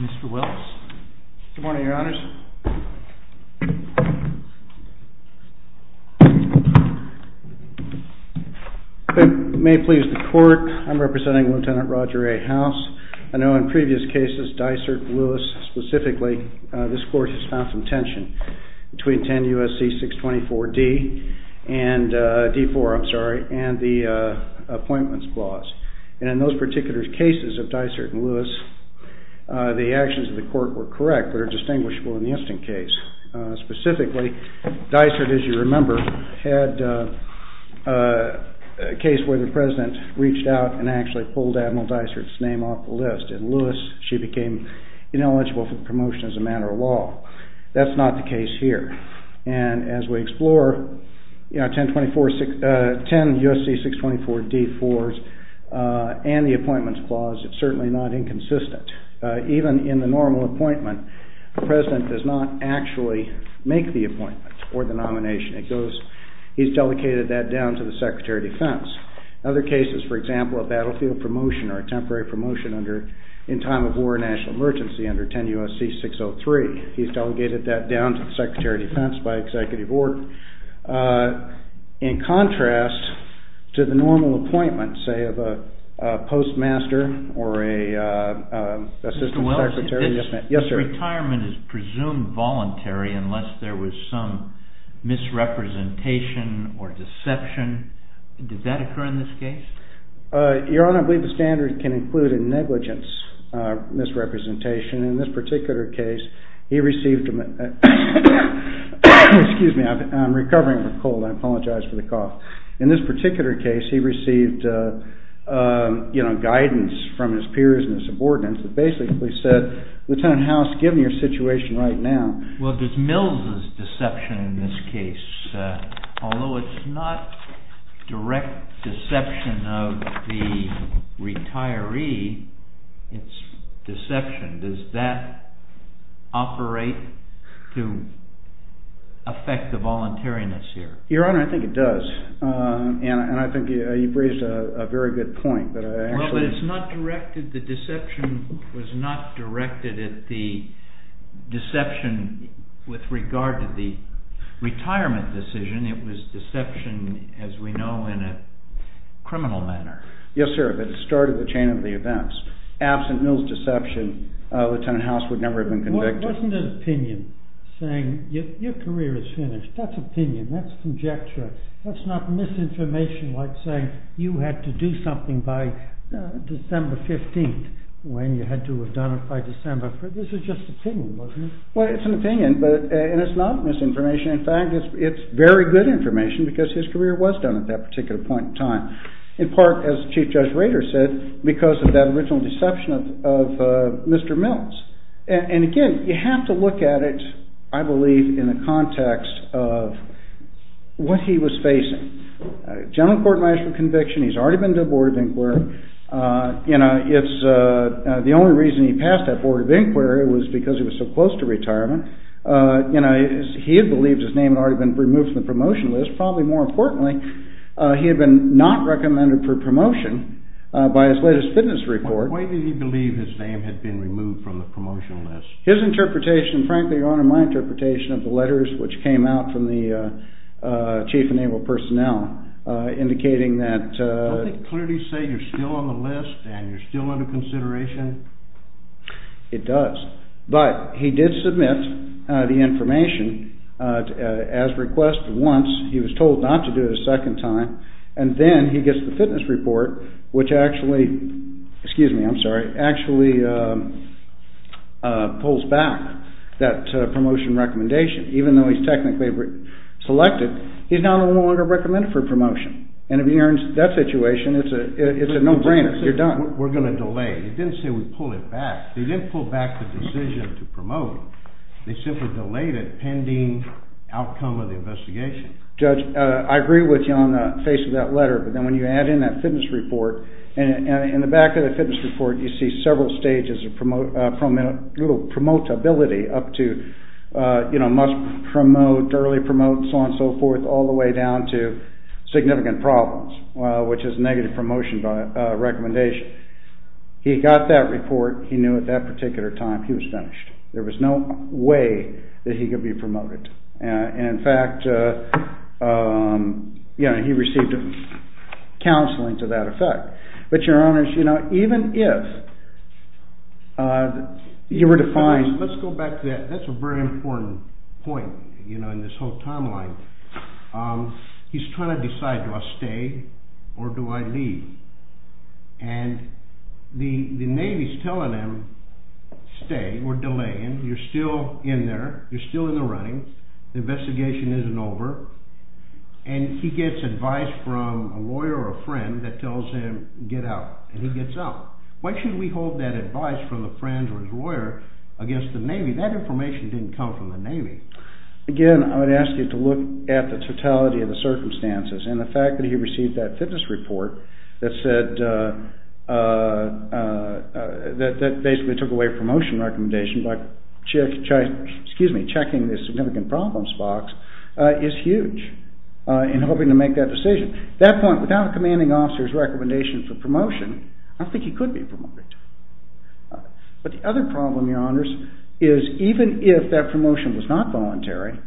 Mr. Wells. Good morning, Your Honors. May it please the Court, I'm representing Lt. Roger A. House. I know in previous cases, Dysart and Lewis specifically, this Court has found some tension between 10 U.S.C. 624-D and D-4, I'm sorry, and the Dysart and Lewis, the actions of the Court were correct, but are distinguishable in the instant case. Specifically, Dysart, as you remember, had a case where the President reached out and actually pulled Admiral Dysart's name off the list, and Lewis, she became ineligible for the promotion as a matter of law. That's not the case here. And as we explore, you know, 10 U.S.C. 624-D-4s and the appointments clause, it's certainly not inconsistent. Even in the normal appointment, the President does not actually make the appointment or the nomination. He's delegated that down to the Secretary of Defense. Other cases, for example, a battlefield promotion or a temporary promotion in time of war or national emergency under 10 U.S.C. 603, he's delegated that down to the Secretary of Defense by Executive Order. In contrast to the normal appointment, say, of a postmaster or an assistant secretary, retirement is presumed voluntary unless there was some misrepresentation or deception. Did that occur in this case? Your Honor, I believe the standard can include a negligence misrepresentation. In this particular case, he received... Excuse me, I'm recovering from a cold. I received, you know, guidance from his peers and his subordinates that basically said, Lieutenant House, given your situation right now... Well, there's Mills' deception in this case. Although it's not direct deception of the retiree, it's deception. Does that operate to affect the voluntariness here? Your Honor, I think it does. And I think you've raised a very good point. Well, but it's not directed... the deception was not directed at the deception with regard to the retirement decision. It was deception, as we know, in a criminal manner. Yes, sir, but it started the chain of the events. Absent Mills' deception, Lieutenant House would never have been convicted. It wasn't an opinion saying, your career is finished. That's opinion. That's conjecture. That's not misinformation like saying you had to do something by December 15th, when you had to have done it by December. This is just opinion, wasn't it? Well, it's an opinion, and it's not misinformation. In fact, it's very good information because his career was done at that particular point in time. In part, as Chief Judge Rader said, because of that original deception of Mills. And again, you have to look at it, I believe, in the context of what he was facing. General court might have conviction. He's already been to a Board of Inquiry. You know, it's the only reason he passed that Board of Inquiry was because he was so close to retirement. You know, he had believed his name had already been removed from the promotion list. Probably more importantly, he had been not recommended for promotion by his latest fitness report. Why did he believe his name had been removed from the promotion list? His interpretation, frankly, Your Honor, my interpretation of the letters which came out from the Chief Enabled Personnel indicating that... Don't they clearly say you're still on the list and you're still under consideration? It does, but he did submit the information as request once. He was told not to do it a second time, and then he gets the fitness report, which actually, excuse me, I'm sorry, actually pulls back that promotion recommendation. Even though he's technically selected, he's now no longer recommended for promotion. And if you're in that situation, it's a no-brainer. You're done. We're going to delay. He didn't say we pull it back. He didn't pull back the decision to promote. They simply delayed it pending outcome of the investigation. I agree with you on the face of that letter, but then when you add in that fitness report, and in the back of the fitness report, you see several stages of promotability up to, you know, must promote, early promote, so on and so forth, all the way down to significant problems, which is negative promotion recommendation. He got that report. He knew at that particular time he was finished. There was no way that he could be promoted. And in fact, yeah, he received counseling to that effect. But your honors, you know, even if you were to find... Let's go back to that. That's a very important point, you know, in this whole timeline. He's trying to decide, do I stay or do I leave? And the Navy's telling him, stay. We're delaying. You're still in there. You're still in the running. The investigation isn't over. And he gets advice from a lawyer or a friend that tells him, get out. And he gets out. Why should we hold that advice from a friend or his lawyer against the Navy? That information didn't come from the Navy. Again, I would ask you to look at the totality of the circumstances and the fact that he received that fitness report that said, that basically took away promotion recommendation by checking this significant problems box is huge in hoping to make that decision. At that point, without a commanding officer's recommendation for promotion, I don't think he could be promoted. But the other problem, your honors, is even if that promotion was not voluntary,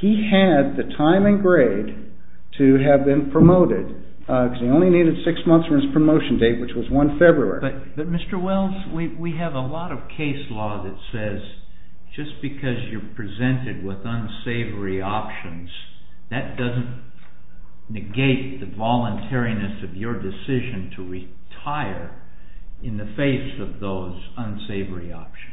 he had the time and grade to have been promoted because he only needed six months for his just because you're presented with unsavory options, that doesn't negate the voluntariness of your decision to retire in the face of those unsavory options.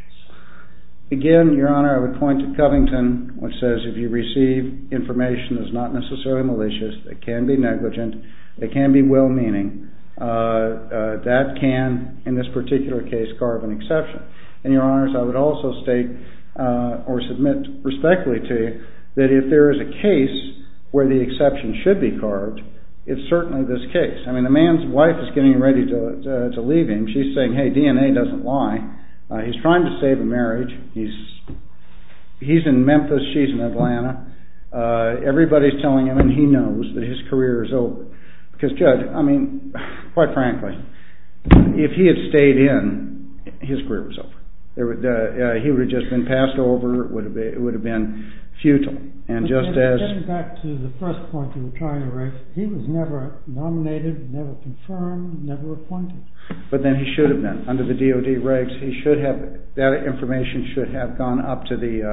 Again, your honor, I would point to Covington, which says if you receive information that's not necessarily malicious, it can be negligent, it can be well-meaning, that can, in this particular case, carve an exception. And your honor, I would also state or submit respectfully to you that if there is a case where the exception should be carved, it's certainly this case. I mean, the man's wife is getting ready to leave him. She's saying, hey, DNA doesn't lie. He's trying to save a marriage. He's in Memphis. She's in Atlanta. Everybody's telling him and he knows that his career is over. Because, Judge, I mean, quite frankly, if he had stayed in, his career was over. He would have just been passed over, it would have been futile. And just as... But getting back to the first point, he was never nominated, never confirmed, never appointed. But then he should have been. Under the DOD rights, he should have, that information should have gone up to the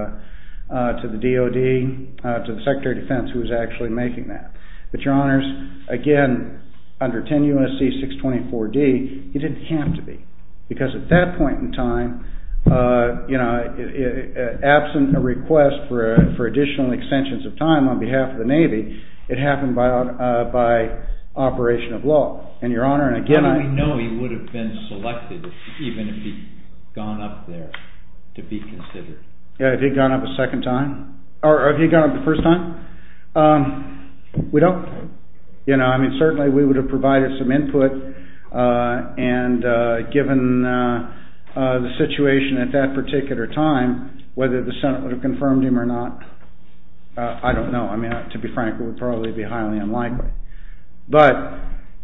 DOD, to the Secretary of Defense, who was actually making that. But your honors, again, under 10 U.S.C. 624-D, he didn't have to be. Because at that point in time, you know, absent a request for additional extensions of time on behalf of the Navy, it happened by operation of law. And your honor, and again... How do we know he would have been selected, even if he'd gone up there, to be considered? If he'd gone up a second time? Or if he'd gone up the first time? We don't... You know, I mean, certainly we would have provided some input. And given the situation at that particular time, whether the Senate would have confirmed him or not, I don't know. I mean, to be frank, it would probably be highly unlikely. But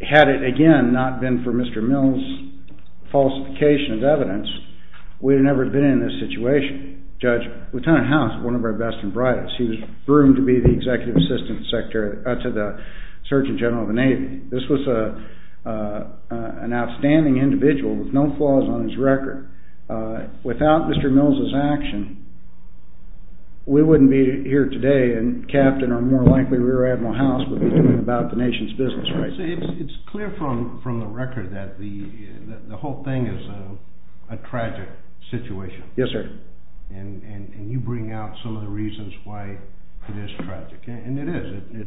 had it, again, not been for Mr. Mills' falsification of evidence, we'd have never been in this situation. Judge, Lieutenant House, one of our best and brightest, he was broomed to be the Executive Assistant Secretary to the Surgeon General of the Navy. This was an outstanding individual with no flaws on his record. Without Mr. Mills' action, we wouldn't be here today. And Captain, or more likely Rear Admiral House, would be doing about the nation's business right now. It's clear from the record that the whole thing is a tragic situation. Yes, sir. And you bring out some of the reasons why it is tragic. And it is.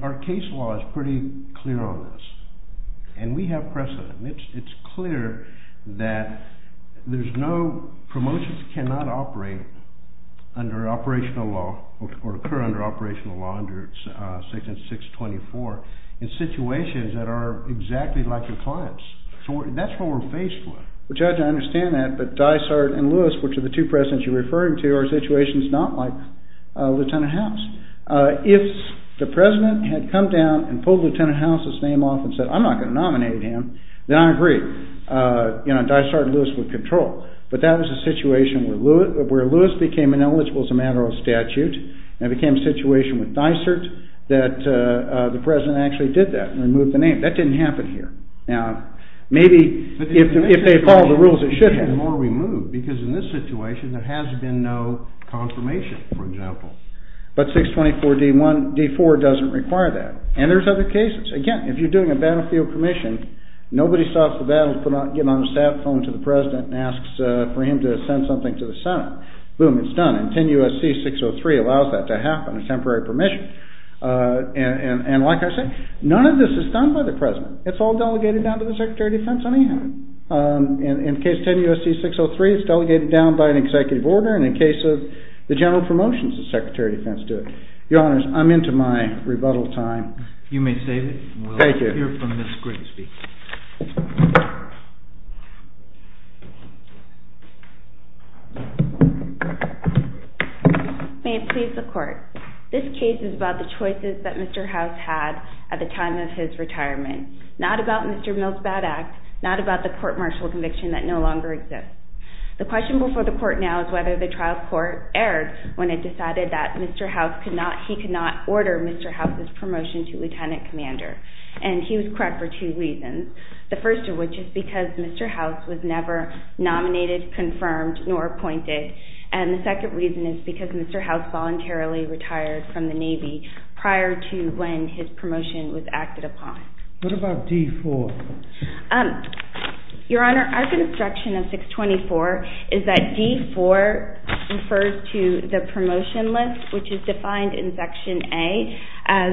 Our case law is pretty clear on this. And we have precedent. It's clear that there's no... Promotions cannot operate under operational law or occur under operational law under Section 624 in situations that are exactly like your clients. So that's what we're faced with. Well, Judge, I understand that. But Dysart and Lewis, which are the two presidents you're referring to, are situations not like Lieutenant House. If the President had come down and pulled Lieutenant House's name off and said, I'm not going to nominate him, then I agree. You know, Dysart and Lewis would control. But that was a situation where Lewis became ineligible as a matter of statute and became a situation with Dysart that the President actually did that and removed the name. That didn't happen here. Now, maybe if they followed the rules, it should have. But in this situation, there has been no confirmation, for example. But 624 D-4 doesn't require that. And there's other cases. Again, if you're doing a battlefield commission, nobody stops the battle to get on a sat phone to the Senate. Boom, it's done. And 10 U.S.C. 603 allows that to happen, a temporary permission. And like I said, none of this is done by the President. It's all delegated down to the Secretary of Defense anyhow. In case 10 U.S.C. 603, it's delegated down by an executive order. And in cases, the general promotions, the Secretary of Defense do it. Your Honors, I'm into my rebuttal time. You may save it. Thank you. We'll hear from Ms. Grigsby. May it please the Court. This case is about the choices that Mr. House had at the time of his retirement, not about Mr. Mill's bad act, not about the court martial conviction that no longer exists. The question before the Court now is whether the trial court erred when it decided that Mr. House could not, he could not make a promotion to Lieutenant Commander. And he was correct for two reasons. The first of which is because Mr. House was never nominated, confirmed, nor appointed. And the second reason is because Mr. House voluntarily retired from the Navy prior to when his promotion was acted upon. What about D-4? Your Honor, our construction of 624 is that D-4 refers to the promotion list, which is defined in Section A as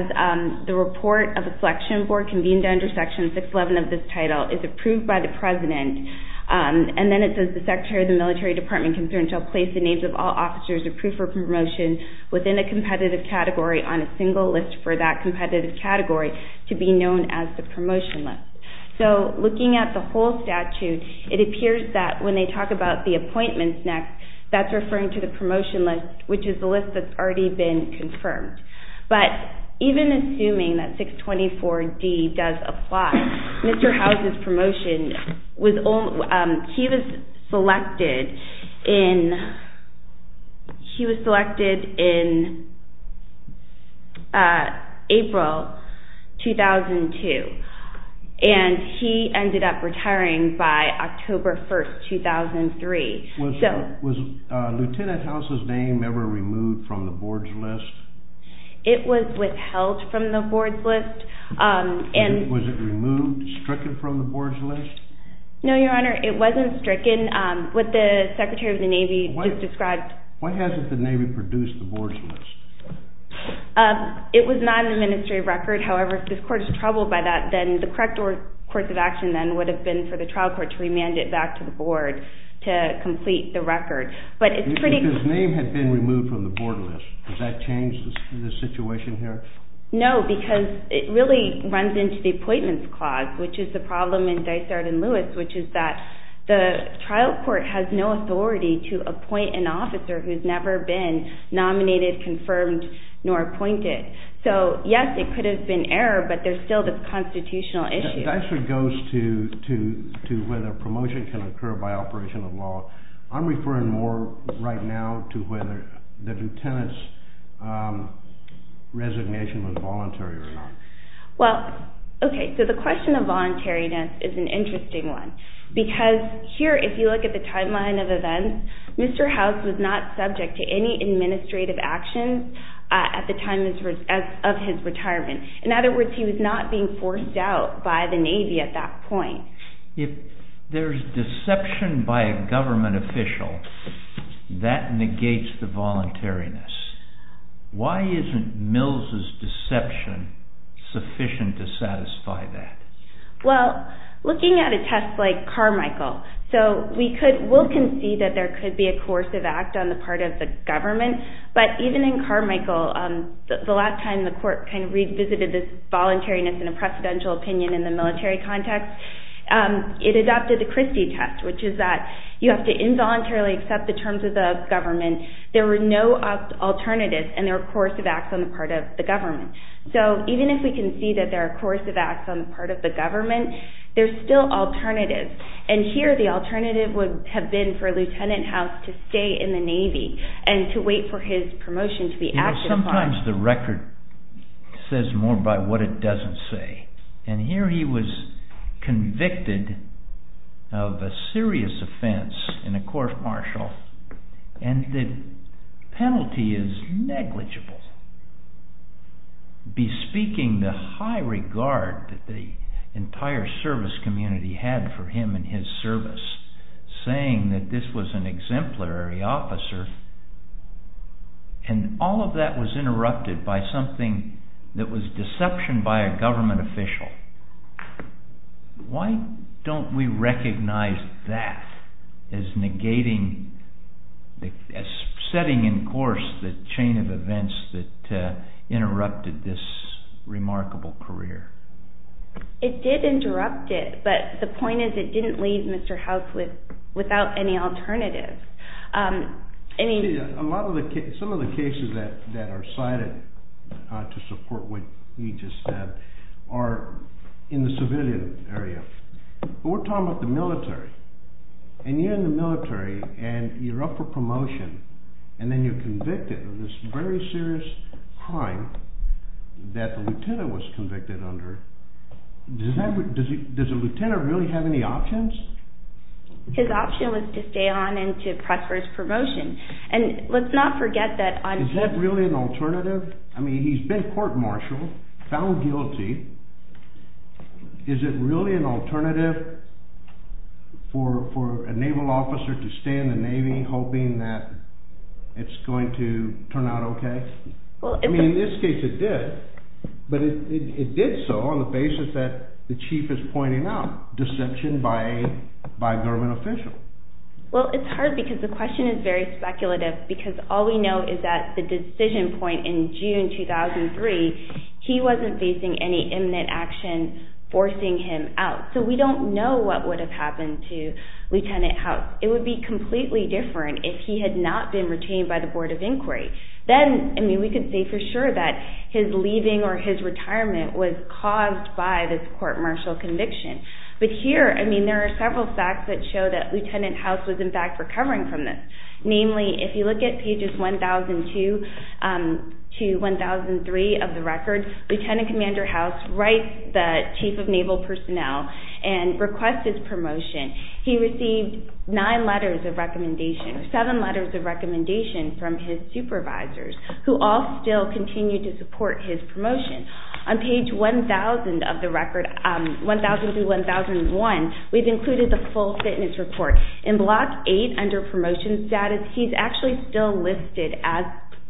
the report of the selection board convened under Section 611 of this title is approved by the President. And then it says the Secretary of the Military Department can place the names of all officers approved for promotion within a competitive category on a single list for that competitive category to be known as the promotion list. So looking at the whole statute, it appears that when they talk about the appointments next, that's referring to the promotion list, which is the list that's already been confirmed. But even assuming that 624-D does apply, Mr. House's promotion, he was selected in April 2002. And he ended up retiring by October 1, 2003. Was Lieutenant House's name ever removed from the board's list? It was withheld from the board's list. Was it removed, stricken from the board's list? No, Your Honor, it wasn't stricken. What the Secretary of the Navy just described... Why hasn't the Navy produced the board's list? It was not in the Ministry of Record. However, if this court is troubled by that, then the correct course of action then would have been for the trial court to remand it back to the board to complete the record. But it's pretty... Even if his name had been removed from the board list, does that change the situation here? No, because it really runs into the appointments clause, which is the problem in Dysart and Lewis, which is that the trial court has no authority to appoint an officer who's never been nominated, confirmed, nor appointed. So yes, it could have been error, but there's still this constitutional issue. Dysart goes to whether promotion can occur by operation of law. I'm referring more right now to whether the Lieutenant's resignation was voluntary or not. Well, okay, so the question of voluntariness is an interesting one. Because here, if you look at the timeline of events, Mr. House was not subject to any administrative actions at the time of his retirement. In other words, he was not being forced out by the Navy at that point. If there's deception by a government official, that negates the voluntariness. Why isn't Mills's deception sufficient to satisfy that? Well, looking at a test like Carmichael, we can see that there could be a coercive act on the part of the government. But even in Carmichael, the last time the court revisited this voluntariness in a precedential opinion in the military context, it adopted the Christie test, which is that you have to involuntarily accept the terms of the government. There were no alternatives, and there were coercive acts on the part of the government. There's still alternatives, and here the alternative would have been for Lieutenant House to stay in the Navy and to wait for his promotion to be acted upon. Sometimes the record says more by what it doesn't say, and here he was convicted of a serious offense in a court-martial, and the penalty is negligible. Bespeaking the high regard that the entire service community had for him and his service, saying that this was an exemplary officer, and all of that was interrupted by something that was deception by a government official. Why don't we recognize that as negating, as setting in course the chain of events that interrupted this remarkable career? It did interrupt it, but the point is it didn't leave Mr. House without any in the civilian area. We're talking about the military, and you're in the military, and you're up for promotion, and then you're convicted of this very serious crime that the lieutenant was convicted under. Does a lieutenant really have any options? His option was to stay on and to press for his promotion, and let's not forget that... Is that really an alternative? I mean, he's been court-martialed, found guilty. Is it really an alternative for a naval officer to stay in the Navy hoping that it's going to turn out okay? I mean, in this case it did, but it did so on the basis that the chief is pointing out, deception by a government official. Well, it's hard because the question is very simple. He wasn't facing any imminent action forcing him out, so we don't know what would have happened to Lieutenant House. It would be completely different if he had not been retained by the Board of Inquiry. Then, I mean, we could say for sure that his leaving or his retirement was caused by this court-martial conviction, but here, I mean, there are several facts that show that Lieutenant House was, in fact, recovering from this. Namely, if you look at pages 1002 to 1003 of the record, Lieutenant Commander House writes the Chief of Naval Personnel and requests his promotion. He received nine letters of recommendation, seven letters of recommendation from his supervisors, who all still continue to support his promotion. On page 1000 of the record, 1000 through 1001, we've included the full fitness report. In Block 8, under promotion status, he's actually still listed as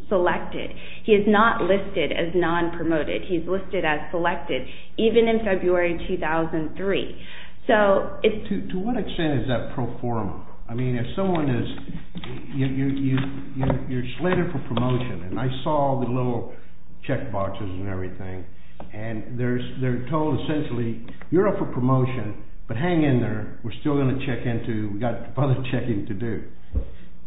selected. He is not listed as non-promoted. He's listed as selected, even in February 2003. So, it's... To what extent is that pro forma? I mean, if someone is, you're slated for promotion, and I saw the little checkboxes and everything, and they're told, essentially, you're up for promotion, but hang in there. We're still going to check into, we've got other checking to do.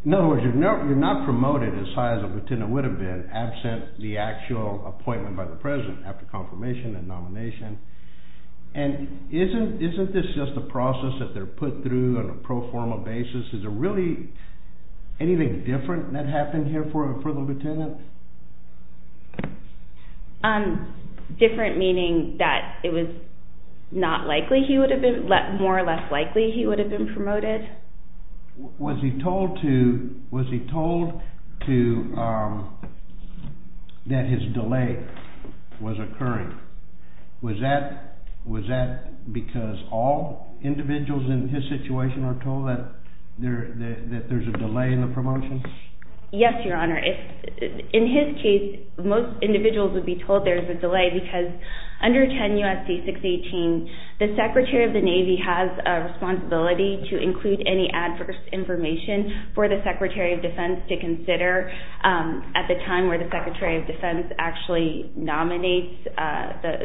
In other words, you're not promoted as high as a lieutenant would have been, absent the actual appointment by the president, after confirmation and nomination. And isn't this just a process that they're put through on a pro forma basis? Is there really anything different that happened here for the lieutenant? Different meaning that it was not likely he would have been, more or less likely he would have been promoted? Was he told to, was he told to, that his delay was occurring? Was that, was that because all individuals in his case, most individuals would be told there's a delay, because under 10 U.S.C. 618, the Secretary of the Navy has a responsibility to include any adverse information for the Secretary of Defense to consider, at the time where the Secretary of Defense actually nominates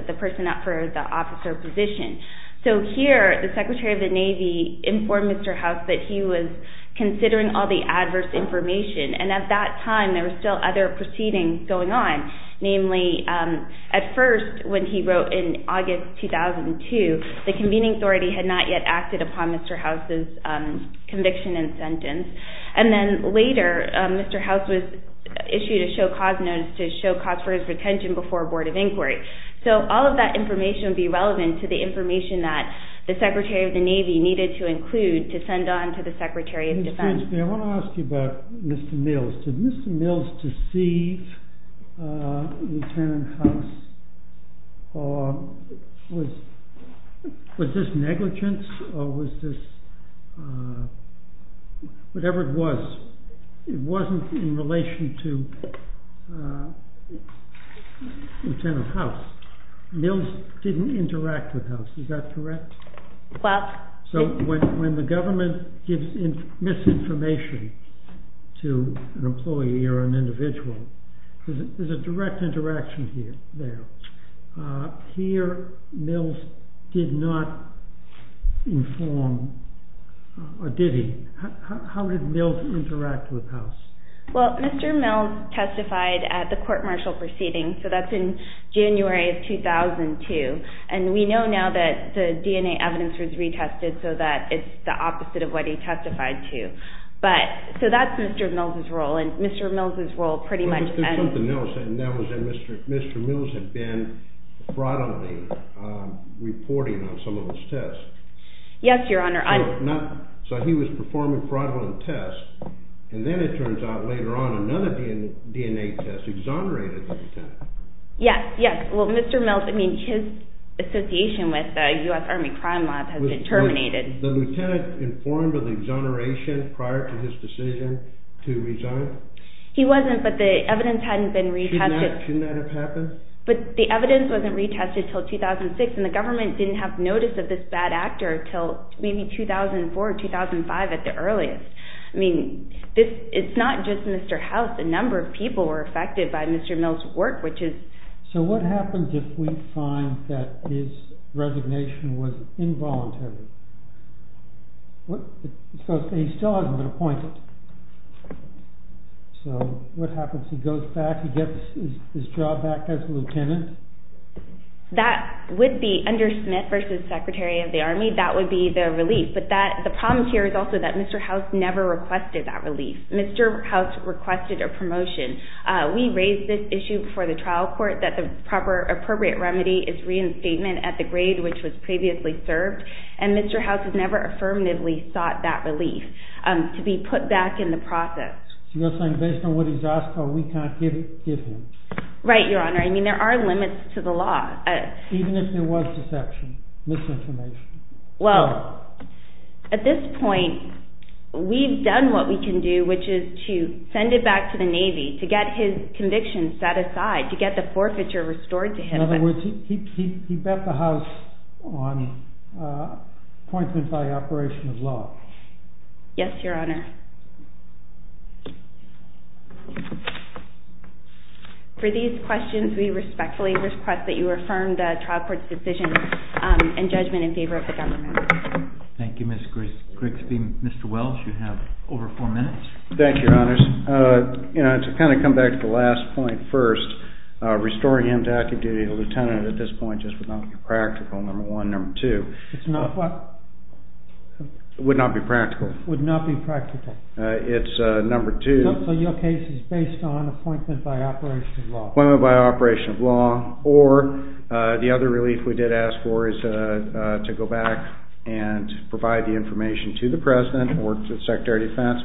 the person up for the officer position. So, here, the Secretary of the Navy informed Mr. House that he was considering all the adverse information, and at that time, there were still other proceedings going on. Namely, at first, when he wrote in August 2002, the convening authority had not yet acted upon Mr. House's conviction and sentence. And then later, Mr. House was issued a show cause notice to show cause for his retention before a board of inquiry. So, all of that information would be relevant to the information that the Secretary of the Navy needed to include to send on to the Secretary of Defense. I want to ask you about Mr. Mills. Did Mr. Mills deceive Lieutenant House? Or, was this negligence, or was this, whatever it was, it wasn't in relation to Lieutenant House. Mills didn't interact with House, is that correct? So, when the government gives misinformation to an employee or an individual, there's a direct interaction there. Here, Mills did not inform, or did he? How did Mills interact with House? Well, Mr. Mills testified at the court-martial proceeding, so that's in January of 2002. And we know now that the DNA evidence was retested, so that it's the opposite of what he testified to. But, so that's Mr. Mills' role, and Mr. Mills' role pretty much ends- But there's something else, and that was that Mr. Mills had been fraudulently reporting on some of his tests. So he was performing fraudulent tests, and then it turns out later on, another DNA test exonerated the Lieutenant. Yes, yes. Well, Mr. Mills, I mean, his association with the U.S. Army Crime Lab has been terminated. Was the Lieutenant informed of the exoneration prior to his decision to resign? He wasn't, but the evidence hadn't been retested- Shouldn't that have happened? But the evidence wasn't retested until 2006, and the government didn't have notice of this bad actor until maybe 2004, 2005, at the earliest. I mean, it's not just Mr. House. A number of people were affected by Mr. Mills' work, which is- So what happens if we find that his resignation was involuntary? So he still hasn't been appointed. So what happens? He goes back, he gets his job back as a Lieutenant? That would be, under Smith v. Secretary of the Army, that would be the relief. But the problem here is also that Mr. House never requested that relief. Mr. House requested a promotion. We raised this issue before the trial court, that the appropriate remedy is reinstatement at the grade which was previously served. And Mr. House has never affirmatively sought that relief to be put back in the process. So you're saying based on what he's asked for, we can't give him? Right, Your Honor. I mean, there are limits to the law. Even if there was deception, misinformation? Well, at this point, we've done what we can do, which is to send it back to the Navy to get his conviction set aside, to get the forfeiture restored to him. In other words, he bet the House on appointment by operation of law? Yes, Your Honor. For these questions, we respectfully request that you affirm the trial court's decision and judgment in favor of the government. Thank you, Ms. Grigsby. Mr. Welch, you have over four minutes. Thank you, Your Honors. To kind of come back to the last point first, restoring him to active duty as a lieutenant at this point just would not be practical, number one. Number two, it would not be practical. Would not be practical. It's number two. So your case is based on appointment by operation of law? Appointment by operation of law. Or the other relief we did ask for is to go back and provide the information to the President or to the Secretary of Defense,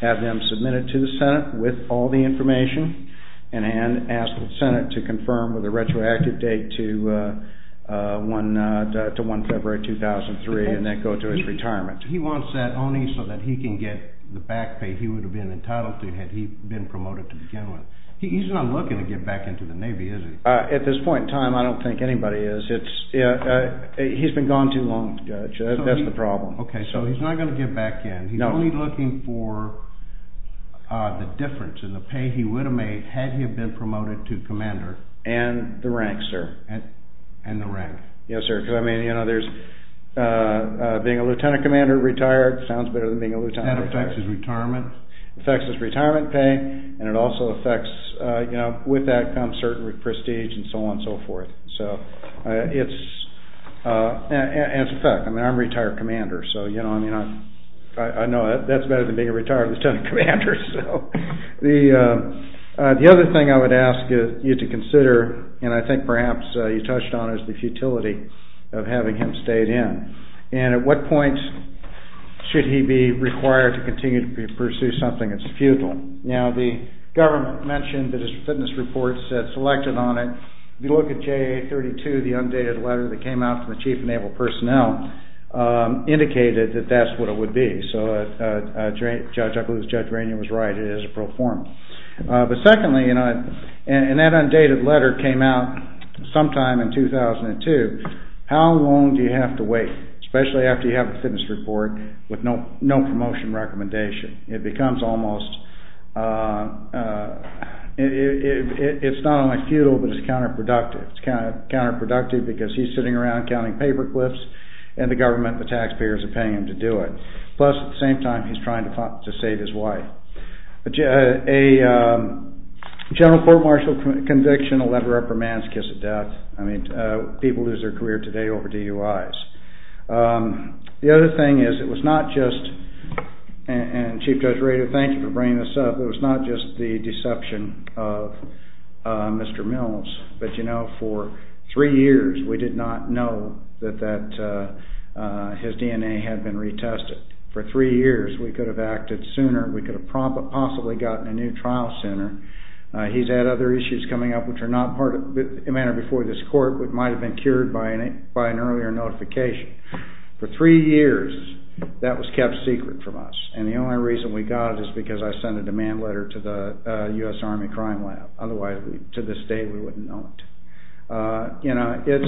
have them submit it to the Senate with all the information, and ask the Senate to confirm with a retroactive date to 1 February 2003 and then go to his retirement. He wants that only so that he can get the back pay he would have been entitled to had he been promoted to begin with. He's not looking to get back into the Navy, is he? At this point in time, I don't think anybody is. He's been gone too long, Judge. That's the problem. Okay, so he's not going to get back in. No. He's only looking for the difference in the pay he would have made had he been promoted to commander. And the rank, sir. And the rank. Yes, sir, because, I mean, being a lieutenant commander retired sounds better than being a lieutenant. That affects his retirement? It affects his retirement pay, and it also affects, you know, with that comes certain prestige and so on and so forth. And it's a fact. I mean, I'm a retired commander, so, you know, I know that's better than being a retired lieutenant commander. The other thing I would ask you to consider, and I think perhaps you touched on, is the futility of having him stayed in. And at what point should he be required to continue to pursue something that's futile? Now, the government mentioned that his fitness report said selected on it. If you look at JA32, the undated letter that came out from the Chief of Naval Personnel, indicated that that's what it would be. So I believe Judge Rainier was right, it is a pro forma. But secondly, and that undated letter came out sometime in 2002. How long do you have to wait, especially after you have a fitness report with no promotion recommendation? It becomes almost, it's not only futile, but it's counterproductive. It's counterproductive because he's sitting around counting paperclips, and the government and the taxpayers are paying him to do it. Plus, at the same time, he's trying to save his wife. A general court martial conviction, a letter of remand, is a kiss of death. People lose their career today over DUIs. The other thing is, it was not just, and Chief Judge Rainier, thank you for bringing this up, it was not just the deception of Mr. Mills. But you know, for three years, we did not know that his DNA had been retested. For three years, we could have acted sooner, we could have possibly gotten a new trial sooner. He's had other issues coming up, which are not a matter before this court, but might have been cured by an earlier notification. For three years, that was kept secret from us, and the only reason we got it is because I sent a demand letter to the U.S. Army Crime Lab. Otherwise, to this day, we wouldn't know it. Assuming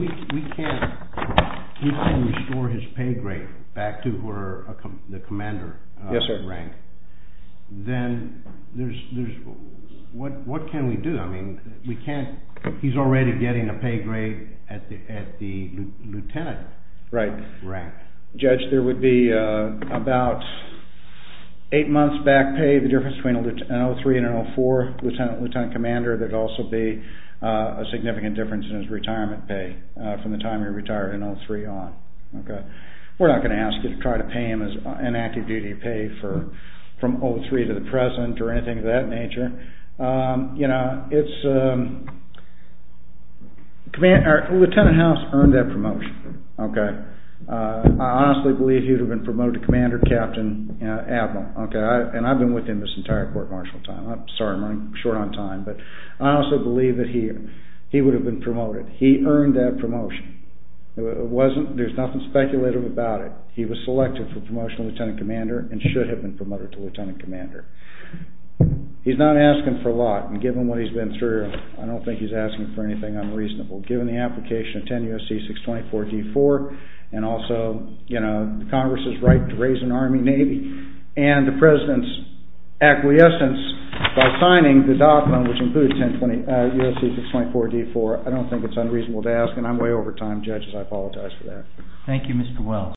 we can't restore his pay grade back to the commander rank, then what can we do? I mean, he's already getting a pay grade at the lieutenant rank. Right. Judge, there would be about eight months back pay, the difference between an O3 and an O4 lieutenant commander, there would also be a significant difference in his retirement pay from the time he retired in O3 on. We're not going to ask you to try to pay him an active duty pay from O3 to the present or anything of that nature. Lieutenant House earned that promotion. I honestly believe he would have been promoted to commander captain admiral. And I've been with him this entire court martial time. Sorry, I'm running short on time. But I also believe that he would have been promoted. He earned that promotion. There's nothing speculative about it. He was selected for promotional lieutenant commander and should have been promoted to lieutenant commander. He's not asking for a lot, and given what he's been through, I don't think he's asking for anything unreasonable. Given the application of 10 U.S.C. 624-D4, and also Congress's right to raise an army, navy, and the president's acquiescence by signing the document, which includes 10 U.S.C. 624-D4, I don't think it's unreasonable to ask, and I'm way over time. Judges, I apologize for that. Thank you, Mr. Wells.